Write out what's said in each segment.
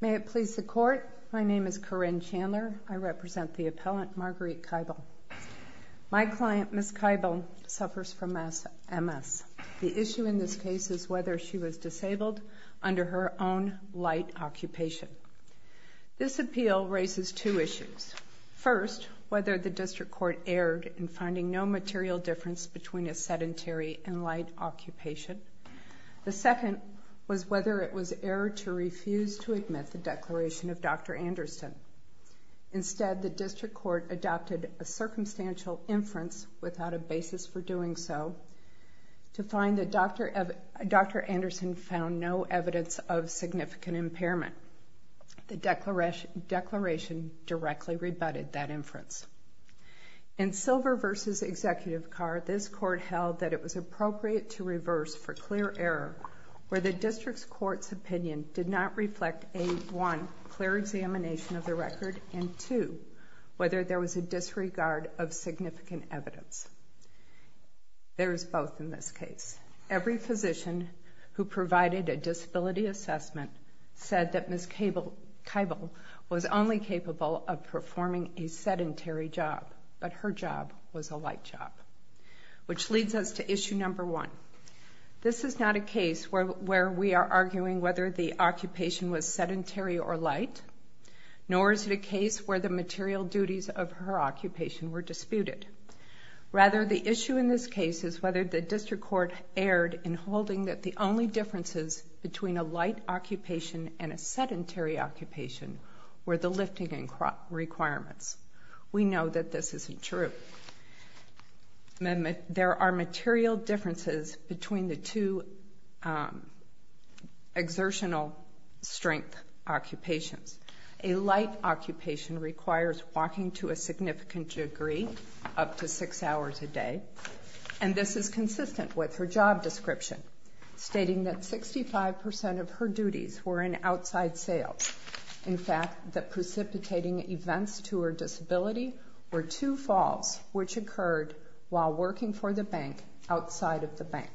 May it please the Court, my name is Corinne Chandler. I represent the appellant Margueritte Kibel. My client, Ms. Kibel, suffers from MS. The issue in this case is whether she was disabled under her own light occupation. This appeal raises two issues. First, whether the District Court erred in finding no material difference between a sedentary and light occupation. The second was whether it was erred to refuse to admit the declaration of Dr. Anderson. Instead, the District Court adopted a circumstantial inference without a basis for doing so, to find that Dr. Anderson found no evidence of significant impairment. The declaration directly rebutted that inference. In Silver v. Executive Carr, this Court held that it was appropriate to reverse for clear error where the District Court's opinion did not reflect a 1. clear examination of the record and 2. whether there was a disregard of significant evidence. There is both in this case. Every physician who provided a disability assessment said that Ms. Kibel was only capable of performing a sedentary job, but her job was a light job. Which leads us to issue number one. This is not a case where we are arguing whether the occupation was sedentary or light, nor is it a case where the material duties of her occupation were disputed. Rather, the issue in this case is whether the District Court erred in holding that the only differences between a light occupation and a sedentary occupation were the lifting requirements. We know that this isn't true. There are material differences between the two exertional strength occupations. A light occupation requires walking to a significant degree, up to six hours a day, and this is consistent with her job description, stating that 65% of her duties were in outside sales. In fact, the precipitating events to her disability were two falls which occurred while working for the bank outside of the bank.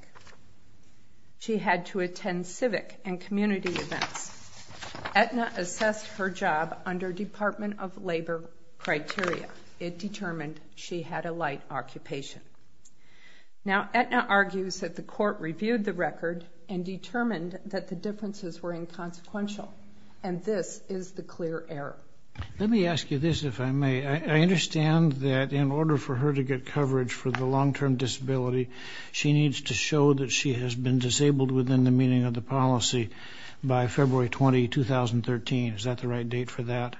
She had to attend civic and community events. Aetna assessed her job under Department of Labor criteria. It determined she had a light occupation. Now, Aetna argues that the court reviewed the record and determined that the differences were inconsequential, and this is the clear error. Let me ask you this, if I may. I understand that in order for her to get coverage for the long-term disability, she needs to show that she has been disabled within the meaning of the policy by February 20, 2013. Is that the right date for that?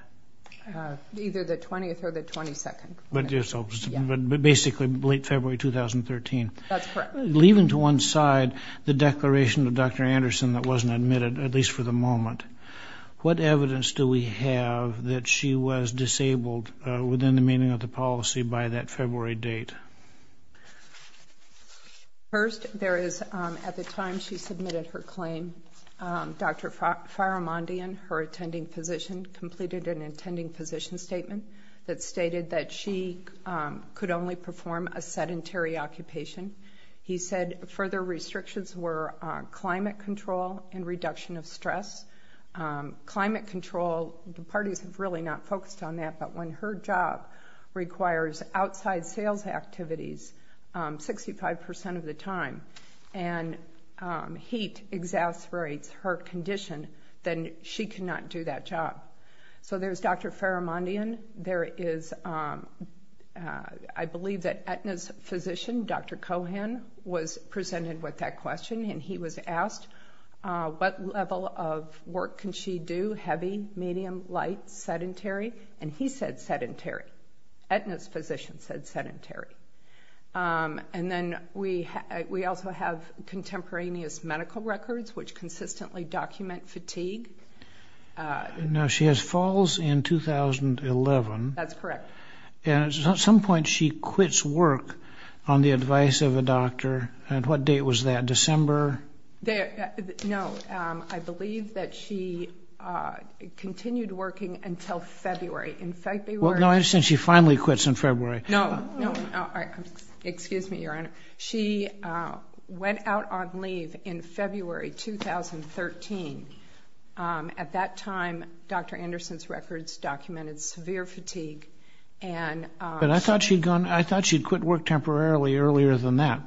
Either the 20th or the 22nd. But basically late February 2013. That's correct. Leaving to one side the declaration of Dr. Anderson that wasn't admitted, at least for the moment, what evidence do we have that she was disabled within the meaning of the policy by that February date? First, there is at the time she submitted her claim, Dr. Faramundian, her attending physician, completed an attending physician statement that stated that she could only perform a sedentary occupation. He said further restrictions were climate control and reduction of stress. Climate control, the parties have really not focused on that, but when her job requires outside sales activities 65% of the time and heat exacerbates her condition, then she cannot do that job. So there's Dr. Faramundian. There is, I believe that Aetna's physician, Dr. Cohan, was presented with that question, and he was asked what level of work can she do, heavy, medium, light, sedentary? And he said sedentary. Aetna's physician said sedentary. And then we also have contemporaneous medical records, which consistently document fatigue. Now, she has falls in 2011. That's correct. And at some point she quits work on the advice of a doctor. At what date was that, December? No, I believe that she continued working until February. Well, no, I understand she finally quits in February. No, no. Excuse me, Your Honor. She went out on leave in February 2013. At that time, Dr. Anderson's records documented severe fatigue. But I thought she'd quit work temporarily earlier than that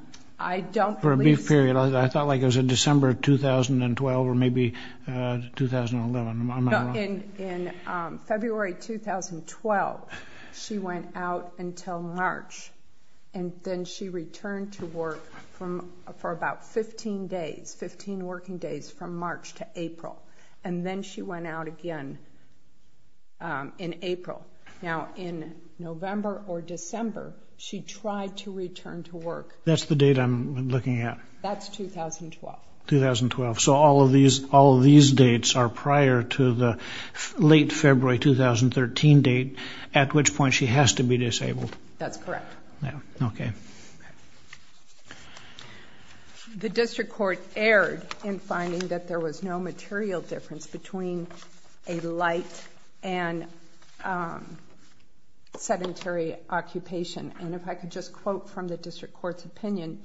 for a brief period. I thought, like, it was in December of 2012 or maybe 2011. In February 2012, she went out until March, and then she returned to work for about 15 days, 15 working days from March to April. And then she went out again in April. Now, in November or December, she tried to return to work. That's the date I'm looking at. That's 2012. 2012. So all of these dates are prior to the late February 2013 date, at which point she has to be disabled. That's correct. Okay. The district court erred in finding that there was no material difference between a light and sedentary occupation. And if I could just quote from the district court's opinion,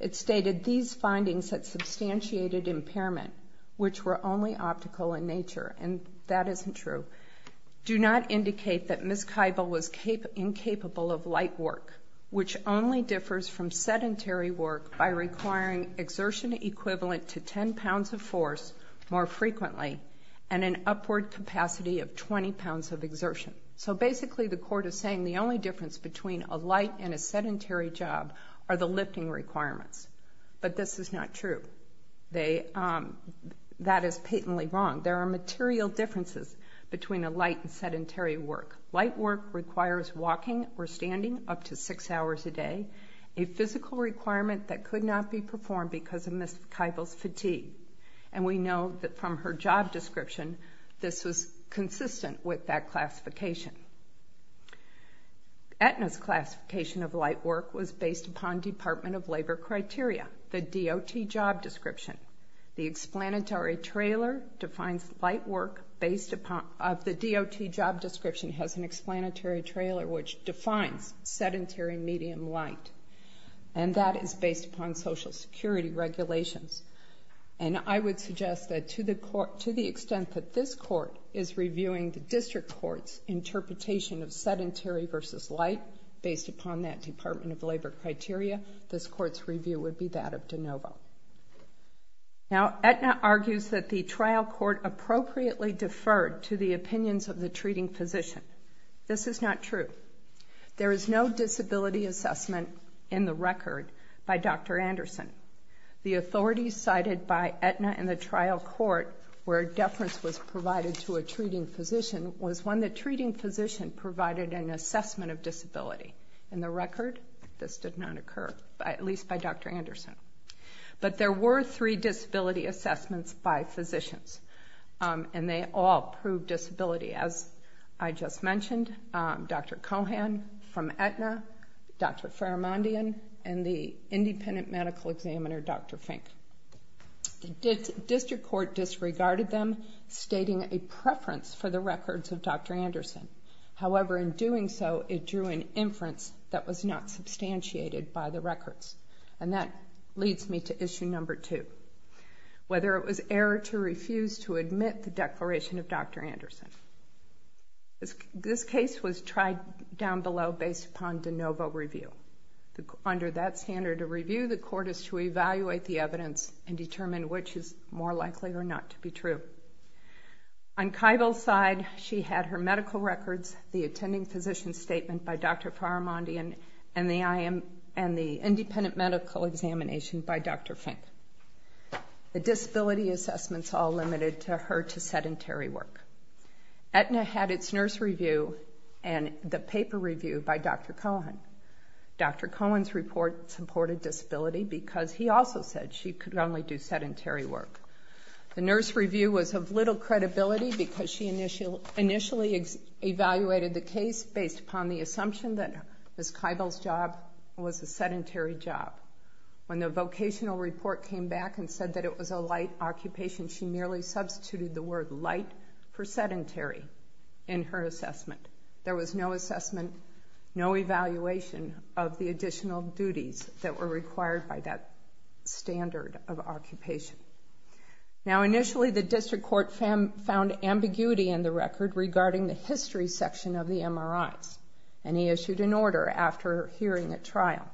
it stated, These findings that substantiated impairment, which were only optical in nature, and that isn't true, do not indicate that Ms. Kibel was incapable of light work, which only differs from sedentary work by requiring exertion equivalent to 10 pounds of force more frequently and an upward capacity of 20 pounds of exertion. So basically the court is saying the only difference between a light and a sedentary job are the lifting requirements. But this is not true. That is patently wrong. There are material differences between a light and sedentary work. Light work requires walking or standing up to six hours a day, a physical requirement that could not be performed because of Ms. Kibel's fatigue. And we know that from her job description, this was consistent with that classification. Aetna's classification of light work was based upon Department of Labor criteria, the DOT job description. The explanatory trailer defines light work based upon the DOT job description has an explanatory trailer which defines sedentary medium light, and that is based upon Social Security regulations. And I would suggest that to the extent that this court is reviewing the district court's interpretation of sedentary versus light based upon that Department of Labor criteria, this court's review would be that of DeNovo. Now Aetna argues that the trial court appropriately deferred to the opinions of the treating physician. This is not true. There is no disability assessment in the record by Dr. Anderson. The authority cited by Aetna in the trial court where deference was provided to a treating physician was one that treating physician provided an assessment of disability. In the record, this did not occur, at least by Dr. Anderson. But there were three disability assessments by physicians, and they all proved disability. As I just mentioned, Dr. Cohan from Aetna, Dr. Faramundian, and the independent medical examiner, Dr. Fink. The district court disregarded them, stating a preference for the records of Dr. Anderson. However, in doing so, it drew an inference that was not substantiated by the records. And that leads me to issue number two, whether it was error to refuse to admit the declaration of Dr. Anderson. This case was tried down below based upon DeNovo review. Under that standard of review, the court is to evaluate the evidence and determine which is more likely or not to be true. On Keibel's side, she had her medical records, the attending physician statement by Dr. Faramundian, and the independent medical examination by Dr. Fink. The disability assessments all limited her to sedentary work. Aetna had its nurse review and the paper review by Dr. Cohan. Dr. Cohan's report supported disability because he also said she could only do sedentary work. The nurse review was of little credibility because she initially evaluated the case based upon the assumption that Ms. Keibel's job was a sedentary job. When the vocational report came back and said that it was a light occupation, she merely substituted the word light for sedentary in her assessment. There was no assessment, no evaluation of the additional duties that were required by that standard of occupation. Now, initially, the district court found ambiguity in the record regarding the history section of the MRIs, and he issued an order after hearing at trial.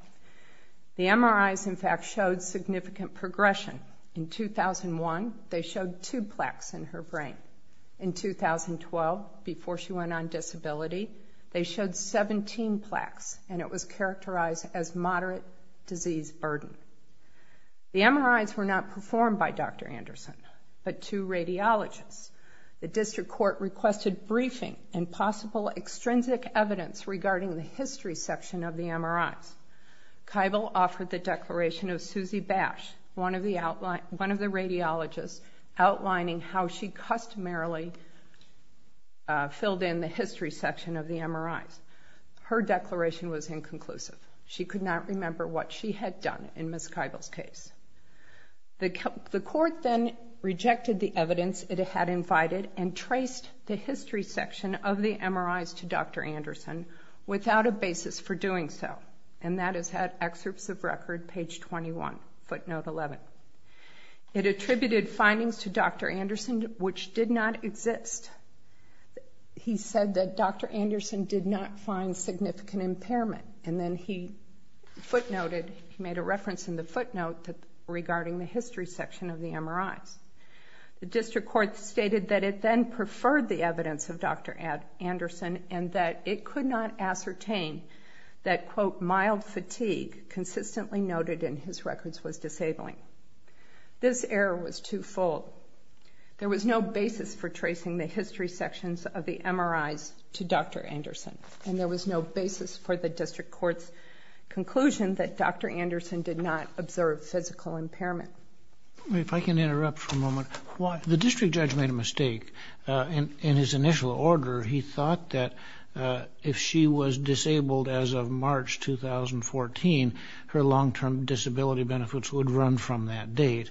The MRIs, in fact, showed significant progression. In 2001, they showed two plaques in her brain. In 2012, before she went on disability, they showed 17 plaques, and it was characterized as moderate disease burden. The MRIs were not performed by Dr. Anderson, but two radiologists. The district court requested briefing and possible extrinsic evidence regarding the history section of the MRIs. Keibel offered the declaration of Susie Bash, one of the radiologists, outlining how she customarily filled in the history section of the MRIs. Her declaration was inconclusive. She could not remember what she had done in Ms. Keibel's case. The court then rejected the evidence it had invited and traced the history section of the MRIs to Dr. Anderson without a basis for doing so, and that is at Excerpts of Record, page 21, footnote 11. It attributed findings to Dr. Anderson which did not exist. He said that Dr. Anderson did not find significant impairment, and then he footnoted, he made a reference in the footnote regarding the history section of the MRIs. The district court stated that it then preferred the evidence of Dr. Anderson and that it could not ascertain that, quote, This error was twofold. There was no basis for tracing the history sections of the MRIs to Dr. Anderson, and there was no basis for the district court's conclusion that Dr. Anderson did not observe physical impairment. If I can interrupt for a moment. The district judge made a mistake. In his initial order, he thought that if she was disabled as of March 2014, her long-term disability benefits would run from that date,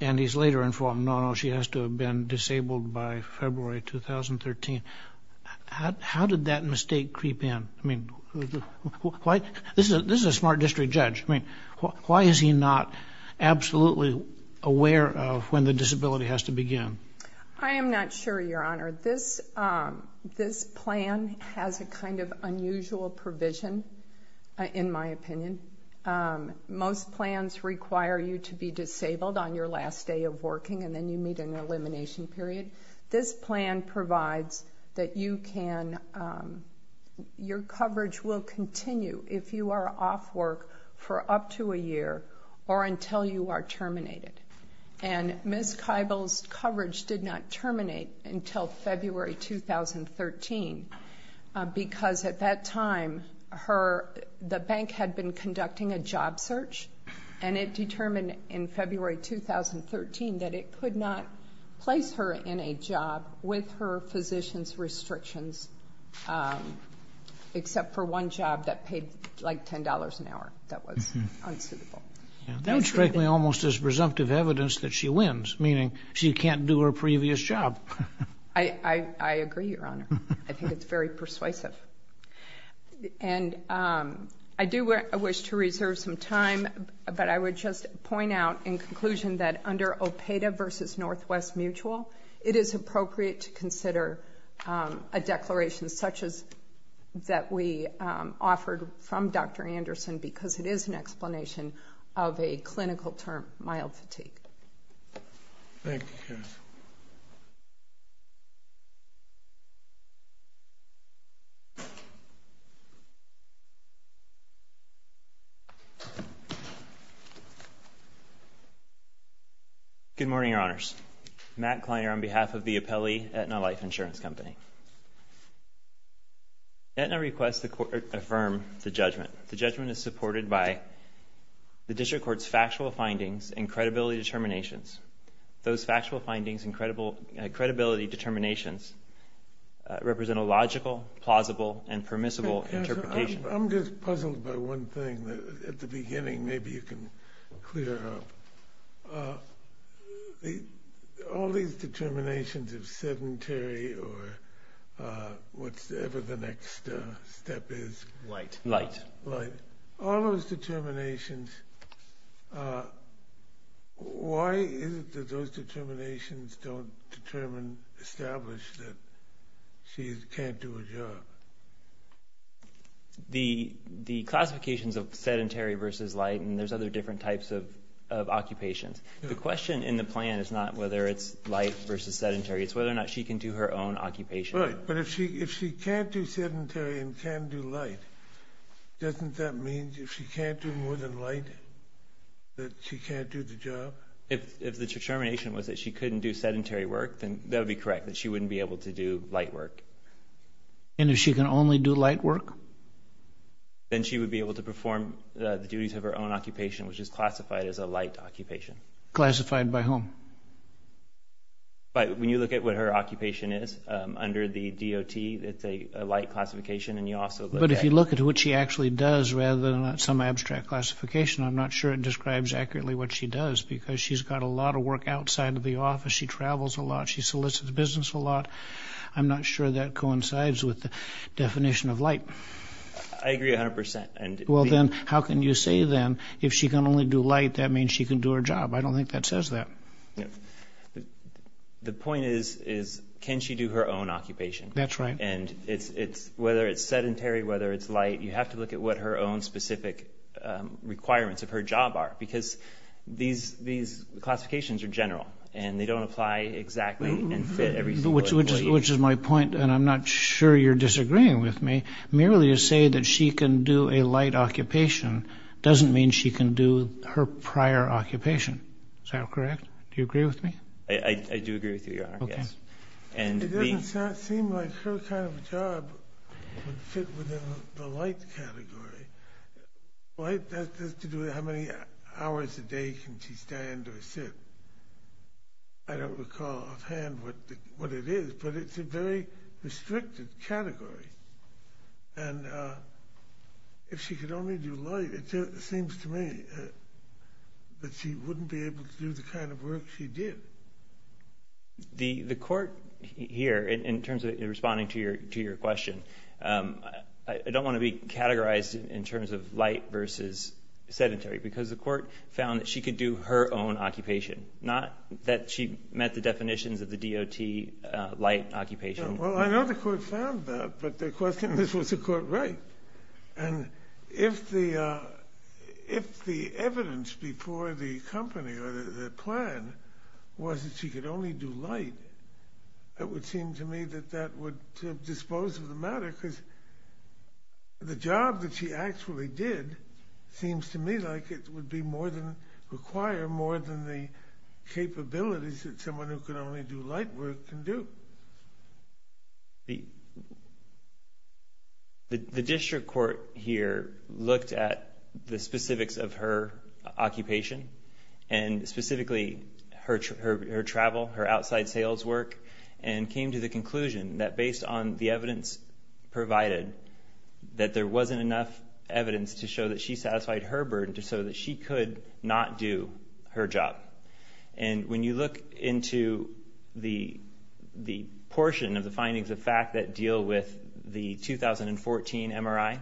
and he's later informed, no, no, she has to have been disabled by February 2013. How did that mistake creep in? I mean, this is a smart district judge. I mean, why is he not absolutely aware of when the disability has to begin? I am not sure, Your Honor. This plan has a kind of unusual provision, in my opinion. Most plans require you to be disabled on your last day of working and then you meet an elimination period. This plan provides that your coverage will continue if you are off work for up to a year or until you are terminated. And Ms. Keibel's coverage did not terminate until February 2013 because at that time the bank had been conducting a job search and it determined in February 2013 that it could not place her in a job with her physician's restrictions except for one job that paid like $10 an hour that was unsuitable. That would strike me almost as presumptive evidence that she wins, meaning she can't do her previous job. I agree, Your Honor. I think it's very persuasive. And I do wish to reserve some time, but I would just point out in conclusion that under OPEDA versus Northwest Mutual, it is appropriate to consider a declaration such as that we offered from Dr. Anderson because it is an explanation of a clinical term, mild fatigue. Thank you, Justice. Good morning, Your Honors. Matt Kleiner on behalf of the Appellee Aetna Life Insurance Company. The judgment is supported by the District Court's factual findings and credibility determinations. Those factual findings and credibility determinations represent a logical, plausible, and permissible interpretation. I'm just puzzled by one thing that at the beginning maybe you can clear up. All these determinations of sedentary or whatever the next step is. Light. Light. Light. All those determinations, why is it that those determinations don't establish that she can't do her job? The classifications of sedentary versus light and there's other different types of occupations. The question in the plan is not whether it's light versus sedentary. It's whether or not she can do her own occupation. But if she can't do sedentary and can do light, doesn't that mean if she can't do more than light that she can't do the job? If the determination was that she couldn't do sedentary work, then that would be correct, that she wouldn't be able to do light work. And if she can only do light work? Then she would be able to perform the duties of her own occupation, which is classified as a light occupation. Classified by whom? When you look at what her occupation is under the DOT, it's a light classification. But if you look at what she actually does rather than some abstract classification, I'm not sure it describes accurately what she does because she's got a lot of work outside of the office. She travels a lot. She solicits business a lot. I'm not sure that coincides with the definition of light. I agree 100%. Well, then how can you say then if she can only do light that means she can do her job? I don't think that says that. The point is can she do her own occupation? That's right. And whether it's sedentary, whether it's light, you have to look at what her own specific requirements of her job are because these classifications are general and they don't apply exactly and fit everything. Which is my point, and I'm not sure you're disagreeing with me. Merely to say that she can do a light occupation doesn't mean she can do her prior occupation. Is that correct? Do you agree with me? I do agree with you, Your Honor, yes. And it doesn't seem like her kind of job would fit within the light category. Light has to do with how many hours a day can she stand or sit. I don't recall offhand what it is, but it's a very restricted category. And if she could only do light, it seems to me that she wouldn't be able to do the kind of work she did. The court here, in terms of responding to your question, I don't want to be categorized in terms of light versus sedentary because the court found that she could do her own occupation, not that she met the definitions of the DOT light occupation. Well, I know the court found that, but the question is, was the court right? And if the evidence before the company or the plan was that she could only do light, it would seem to me that that would dispose of the matter because the job that she actually did seems to me like it would require more than the capabilities that someone who could only do light work can do. The district court here looked at the specifics of her occupation and specifically her travel, her outside sales work, and came to the conclusion that based on the evidence provided, that there wasn't enough evidence to show that she satisfied her burden to show that she could not do her job. And when you look into the portion of the findings of fact that deal with the 2014 MRI,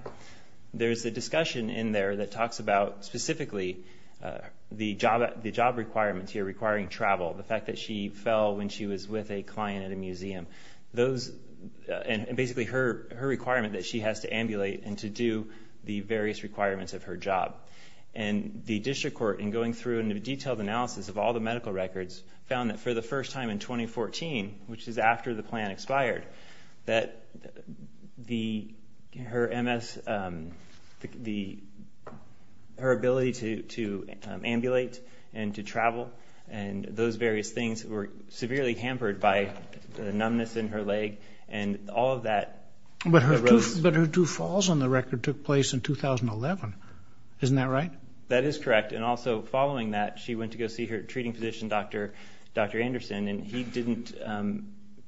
there's a discussion in there that talks about specifically the job requirements here requiring travel, the fact that she fell when she was with a client at a museum, and basically her requirement that she has to ambulate and to do the various requirements of her job. And the district court, in going through a detailed analysis of all the medical records, found that for the first time in 2014, which is after the plan expired, that her ability to ambulate and to travel and those various things were severely hampered by the numbness in her leg and all of that arose. But her two falls on the record took place in 2011. Isn't that right? That is correct. And also following that, she went to go see her treating physician, Dr. Anderson, and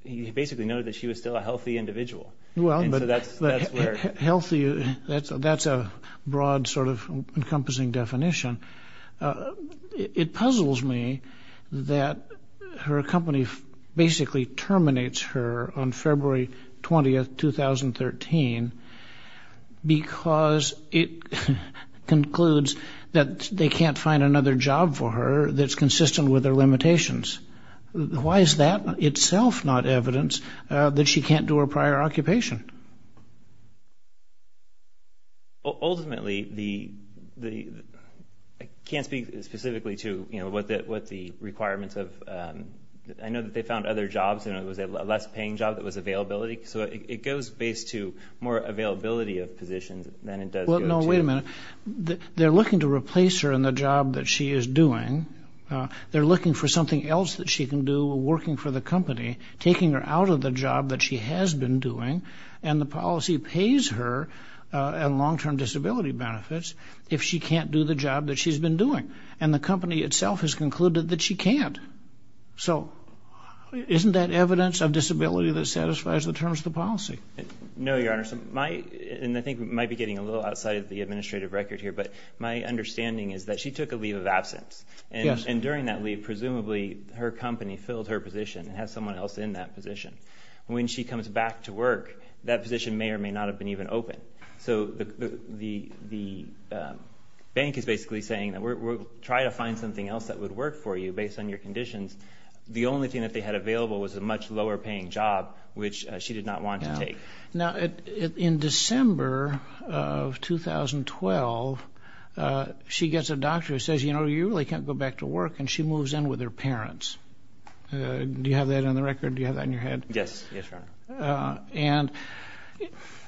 he basically noted that she was still a healthy individual. Well, healthy, that's a broad sort of encompassing definition. It puzzles me that her company basically terminates her on February 20, 2013, because it concludes that they can't find another job for her that's consistent with her limitations. Why is that itself not evidence that she can't do her prior occupation? Ultimately, I can't speak specifically to, you know, what the requirements of... I know that they found other jobs and it was a less paying job that was availability. So it goes based to more availability of positions than it does... Well, no, wait a minute. They're looking to replace her in the job that she is doing. They're looking for something else that she can do while working for the company, taking her out of the job that she has been doing, and the policy pays her in long-term disability benefits if she can't do the job that she's been doing. And the company itself has concluded that she can't. So isn't that evidence of disability that satisfies the terms of the policy? No, Your Honor. And I think we might be getting a little outside of the administrative record here, but my understanding is that she took a leave of absence. And during that leave, presumably, her company filled her position and has someone else in that position. When she comes back to work, that position may or may not have been even open. So the bank is basically saying, we'll try to find something else that would work for you based on your conditions. The only thing that they had available was a much lower paying job, which she did not want to take. Now, in December of 2012, she gets a doctor who says, you know, you really can't go back to work, and she moves in with her parents. Do you have that on the record? Do you have that in your head? Yes. Yes, Your Honor. And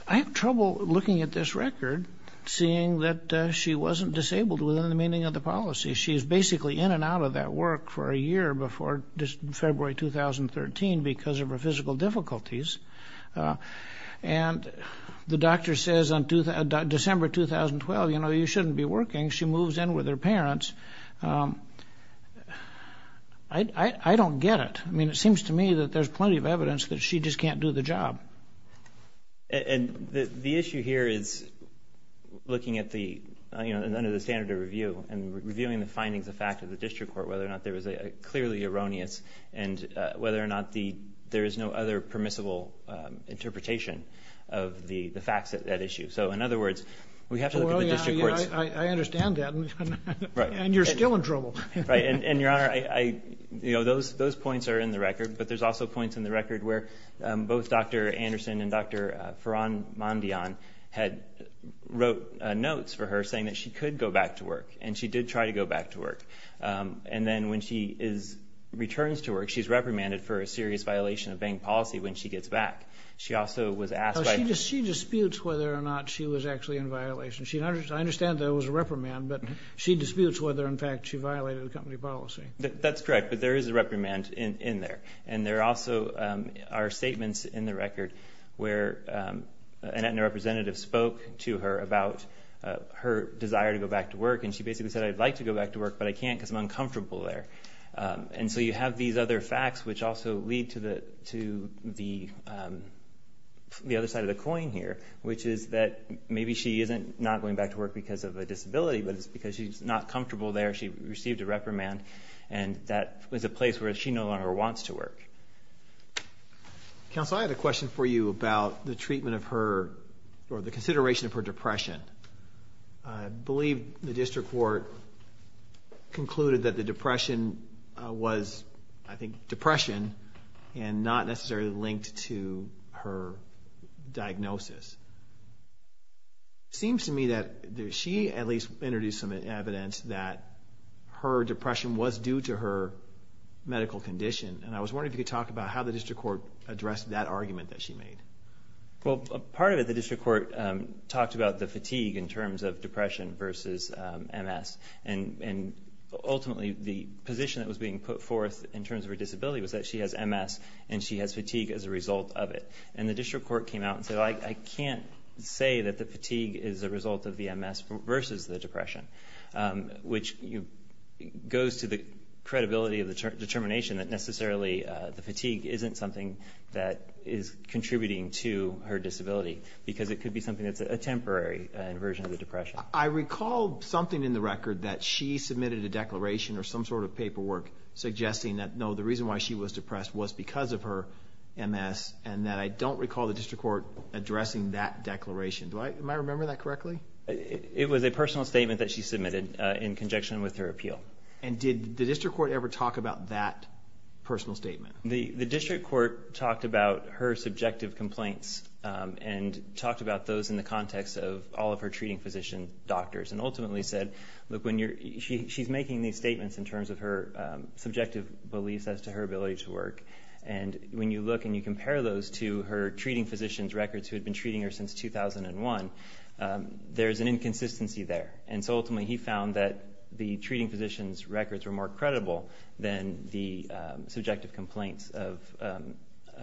I have trouble looking at this record seeing that she wasn't disabled within the meaning of the policy. She is basically in and out of that work for a year before February 2013 because of her physical difficulties. And the doctor says on December 2012, you know, you shouldn't be working. She moves in with her parents. I don't get it. I mean, it seems to me that there's plenty of evidence that she just can't do the job. And the issue here is looking at the, you know, under the standard of review and reviewing the findings of fact of the district court whether or not there was a clearly erroneous and whether or not there is no other permissible interpretation of the facts of that issue. So, in other words, we have to look at the district courts. I understand that, and you're still in trouble. Right. And, Your Honor, you know, those points are in the record, but there's also points in the record where both Dr. Anderson and Dr. Farhan Mondian had wrote notes for her saying that she could go back to work, and she did try to go back to work. And then when she returns to work, she's reprimanded for a serious violation of bank policy when she gets back. She also was asked by the- She disputes whether or not she was actually in violation. I understand there was a reprimand, but she disputes whether, in fact, she violated the company policy. That's correct, but there is a reprimand in there. And there also are statements in the record where an Aetna representative spoke to her about her desire to go back to work, and she basically said, I'd like to go back to work, but I can't because I'm uncomfortable there. And so you have these other facts, which also lead to the other side of the coin here, which is that maybe she isn't not going back to work because of a disability, but it's because she's not comfortable there. She received a reprimand, and that was a place where she no longer wants to work. Counsel, I had a question for you about the treatment of her or the consideration of her depression. I believe the district court concluded that the depression was, I think, depression and not necessarily linked to her diagnosis. It seems to me that she at least introduced some evidence that her depression was due to her medical condition, and I was wondering if you could talk about how the district court addressed that argument that she made. Well, part of it, the district court talked about the fatigue in terms of depression versus MS, and ultimately the position that was being put forth in terms of her disability was that she has MS and she has fatigue as a result of it. And the district court came out and said, I can't say that the fatigue is a result of the MS versus the depression, which goes to the credibility of the determination that necessarily the fatigue isn't something that is contributing to her disability because it could be something that's a temporary inversion of the depression. I recall something in the record that she submitted a declaration or some sort of paperwork suggesting that, no, the reason why she was depressed was because of her MS and that I don't recall the district court addressing that declaration. Am I remembering that correctly? It was a personal statement that she submitted in conjunction with her appeal. And did the district court ever talk about that personal statement? The district court talked about her subjective complaints and talked about those in the context of all of her treating physician doctors and ultimately said, look, she's making these statements in terms of her subjective beliefs as to her ability to work. And when you look and you compare those to her treating physician's records who had been treating her since 2001, there's an inconsistency there. And so ultimately he found that the treating physician's records were more credible than the subjective complaints of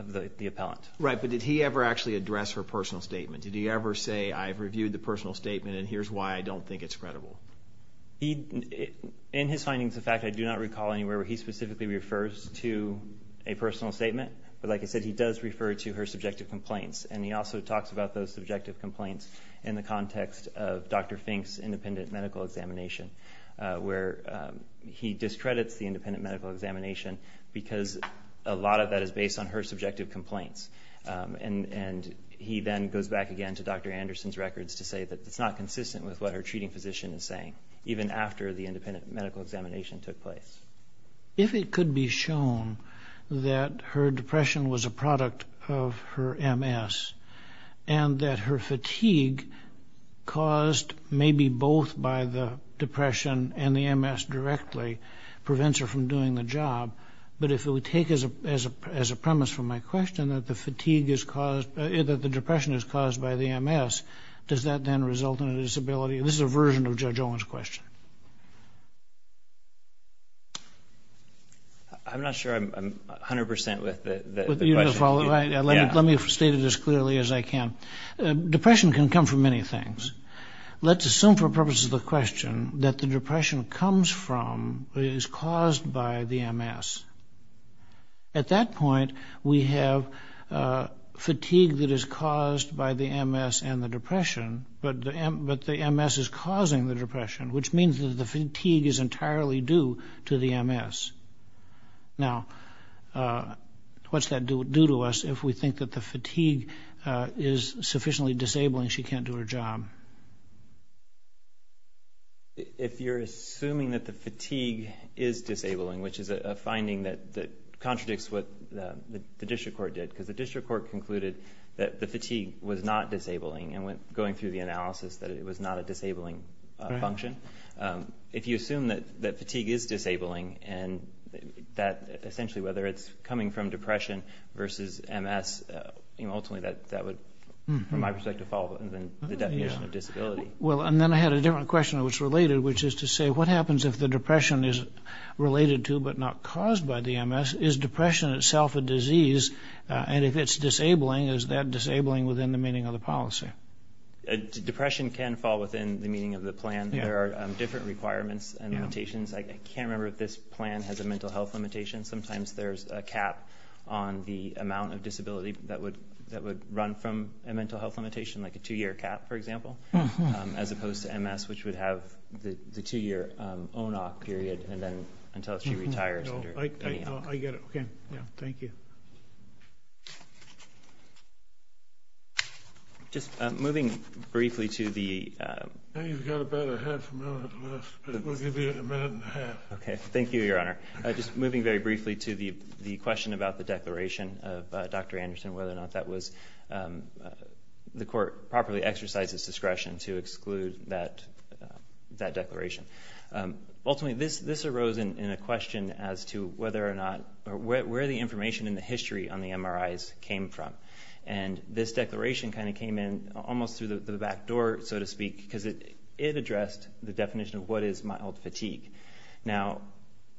the appellant. Right, but did he ever actually address her personal statement? Did he ever say, I've reviewed the personal statement and here's why I don't think it's credible? In his findings, in fact, I do not recall anywhere where he specifically refers to a personal statement. But like I said, he does refer to her subjective complaints. And he also talks about those subjective complaints in the context of Dr. Fink's independent medical examination, where he discredits the independent medical examination because a lot of that is based on her subjective complaints. And he then goes back again to Dr. Anderson's records to say that it's not consistent with what her treating physician is saying, even after the independent medical examination took place. If it could be shown that her depression was a product of her MS and that her fatigue caused maybe both by the depression and the MS directly prevents her from doing the job, but if it would take as a premise from my question that the depression is caused by the MS, does that then result in a disability? This is a version of Judge Owen's question. I'm not sure I'm 100 percent with the question. Let me state it as clearly as I can. Depression can come from many things. Let's assume for purposes of the question that the depression comes from, is caused by the MS. At that point, we have fatigue that is caused by the MS and the depression, but the MS is causing the depression, which means that the fatigue is entirely due to the MS. Now, what's that do to us if we think that the fatigue is sufficiently disabling she can't do her job? If you're assuming that the fatigue is disabling, which is a finding that contradicts what the district court did, because the district court concluded that the fatigue was not disabling and went going through the analysis that it was not a disabling function. If you assume that fatigue is disabling and that essentially whether it's coming from depression versus MS, ultimately that would, from my perspective, fall within the definition of disability. Well, and then I had a different question that was related, which is to say what happens if the depression is related to but not caused by the MS? Is depression itself a disease? And if it's disabling, is that disabling within the meaning of the policy? Depression can fall within the meaning of the plan. There are different requirements and limitations. I can't remember if this plan has a mental health limitation. Sometimes there's a cap on the amount of disability that would run from a mental health limitation, like a two-year cap, for example, as opposed to MS, which would have the two-year ONOC period and then until she retires. I get it. Thank you. Just moving briefly to the ‑‑ I know you've got about a half a minute left, but we'll give you a minute and a half. Okay. Thank you, Your Honor. Just moving very briefly to the question about the declaration of Dr. Anderson, whether or not that was ‑‑ the court properly exercised its discretion to exclude that declaration. Ultimately, this arose in a question as to whether or not or where the information in the history on the MRIs came from. And this declaration kind of came in almost through the back door, so to speak, because it addressed the definition of what is mild fatigue. Now,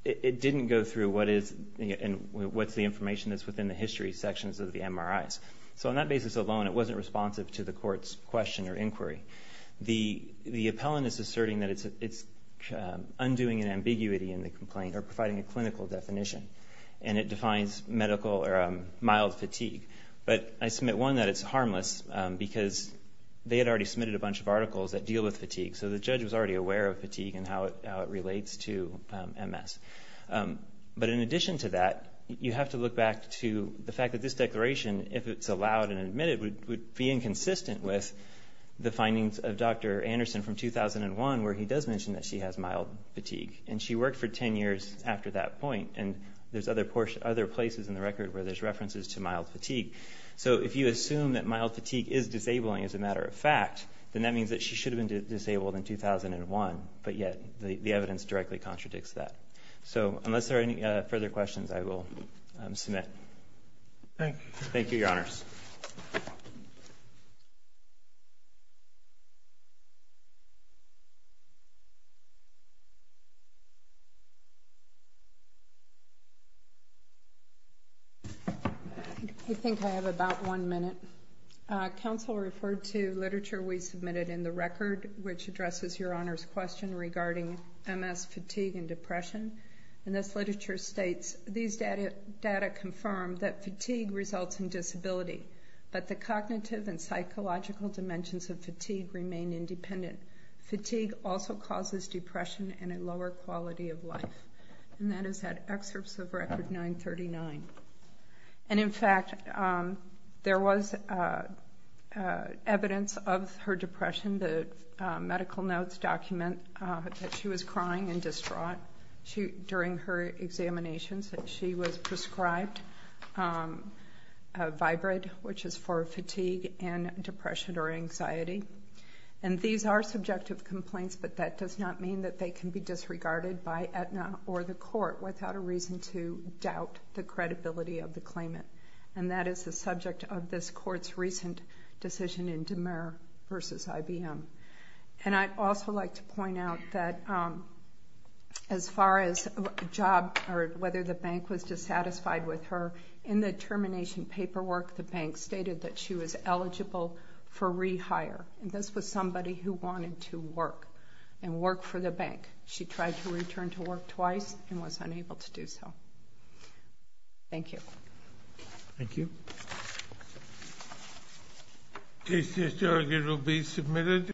it didn't go through what is and what's the information that's within the history sections of the MRIs. So on that basis alone, it wasn't responsive to the court's question or inquiry. The appellant is asserting that it's undoing an ambiguity in the complaint or providing a clinical definition, and it defines medical or mild fatigue. But I submit, one, that it's harmless because they had already submitted a bunch of articles that deal with fatigue, so the judge was already aware of fatigue and how it relates to MS. But in addition to that, you have to look back to the fact that this declaration, if it's allowed and admitted, would be inconsistent with the findings of Dr. Anderson from 2001 where he does mention that she has mild fatigue, and she worked for 10 years after that point, and there's other places in the record where there's references to mild fatigue. So if you assume that mild fatigue is disabling as a matter of fact, then that means that she should have been disabled in 2001, but yet the evidence directly contradicts that. So unless there are any further questions, I will submit. Thank you. Thank you, Your Honors. I think I have about one minute. Counsel referred to literature we submitted in the record which addresses Your Honor's question regarding MS fatigue and depression, and this literature states, these data confirm that fatigue results in disability, but the cognitive and psychological dimensions of fatigue remain independent. Fatigue also causes depression and a lower quality of life. And that is that excerpt of Record 939. And in fact, there was evidence of her depression. The medical notes document that she was crying and distraught. During her examinations, she was prescribed Vybrid, which is for fatigue and depression or anxiety. And these are subjective complaints, but that does not mean that they can be disregarded by Aetna or the court without a reason to doubt the credibility of the claimant. And that is the subject of this court's recent decision in Demer versus IBM. And I'd also like to point out that as far as a job or whether the bank was dissatisfied with her, in the termination paperwork the bank stated that she was eligible for rehire. And this was somebody who wanted to work and work for the bank. She tried to return to work twice and was unable to do so. Thank you. Thank you.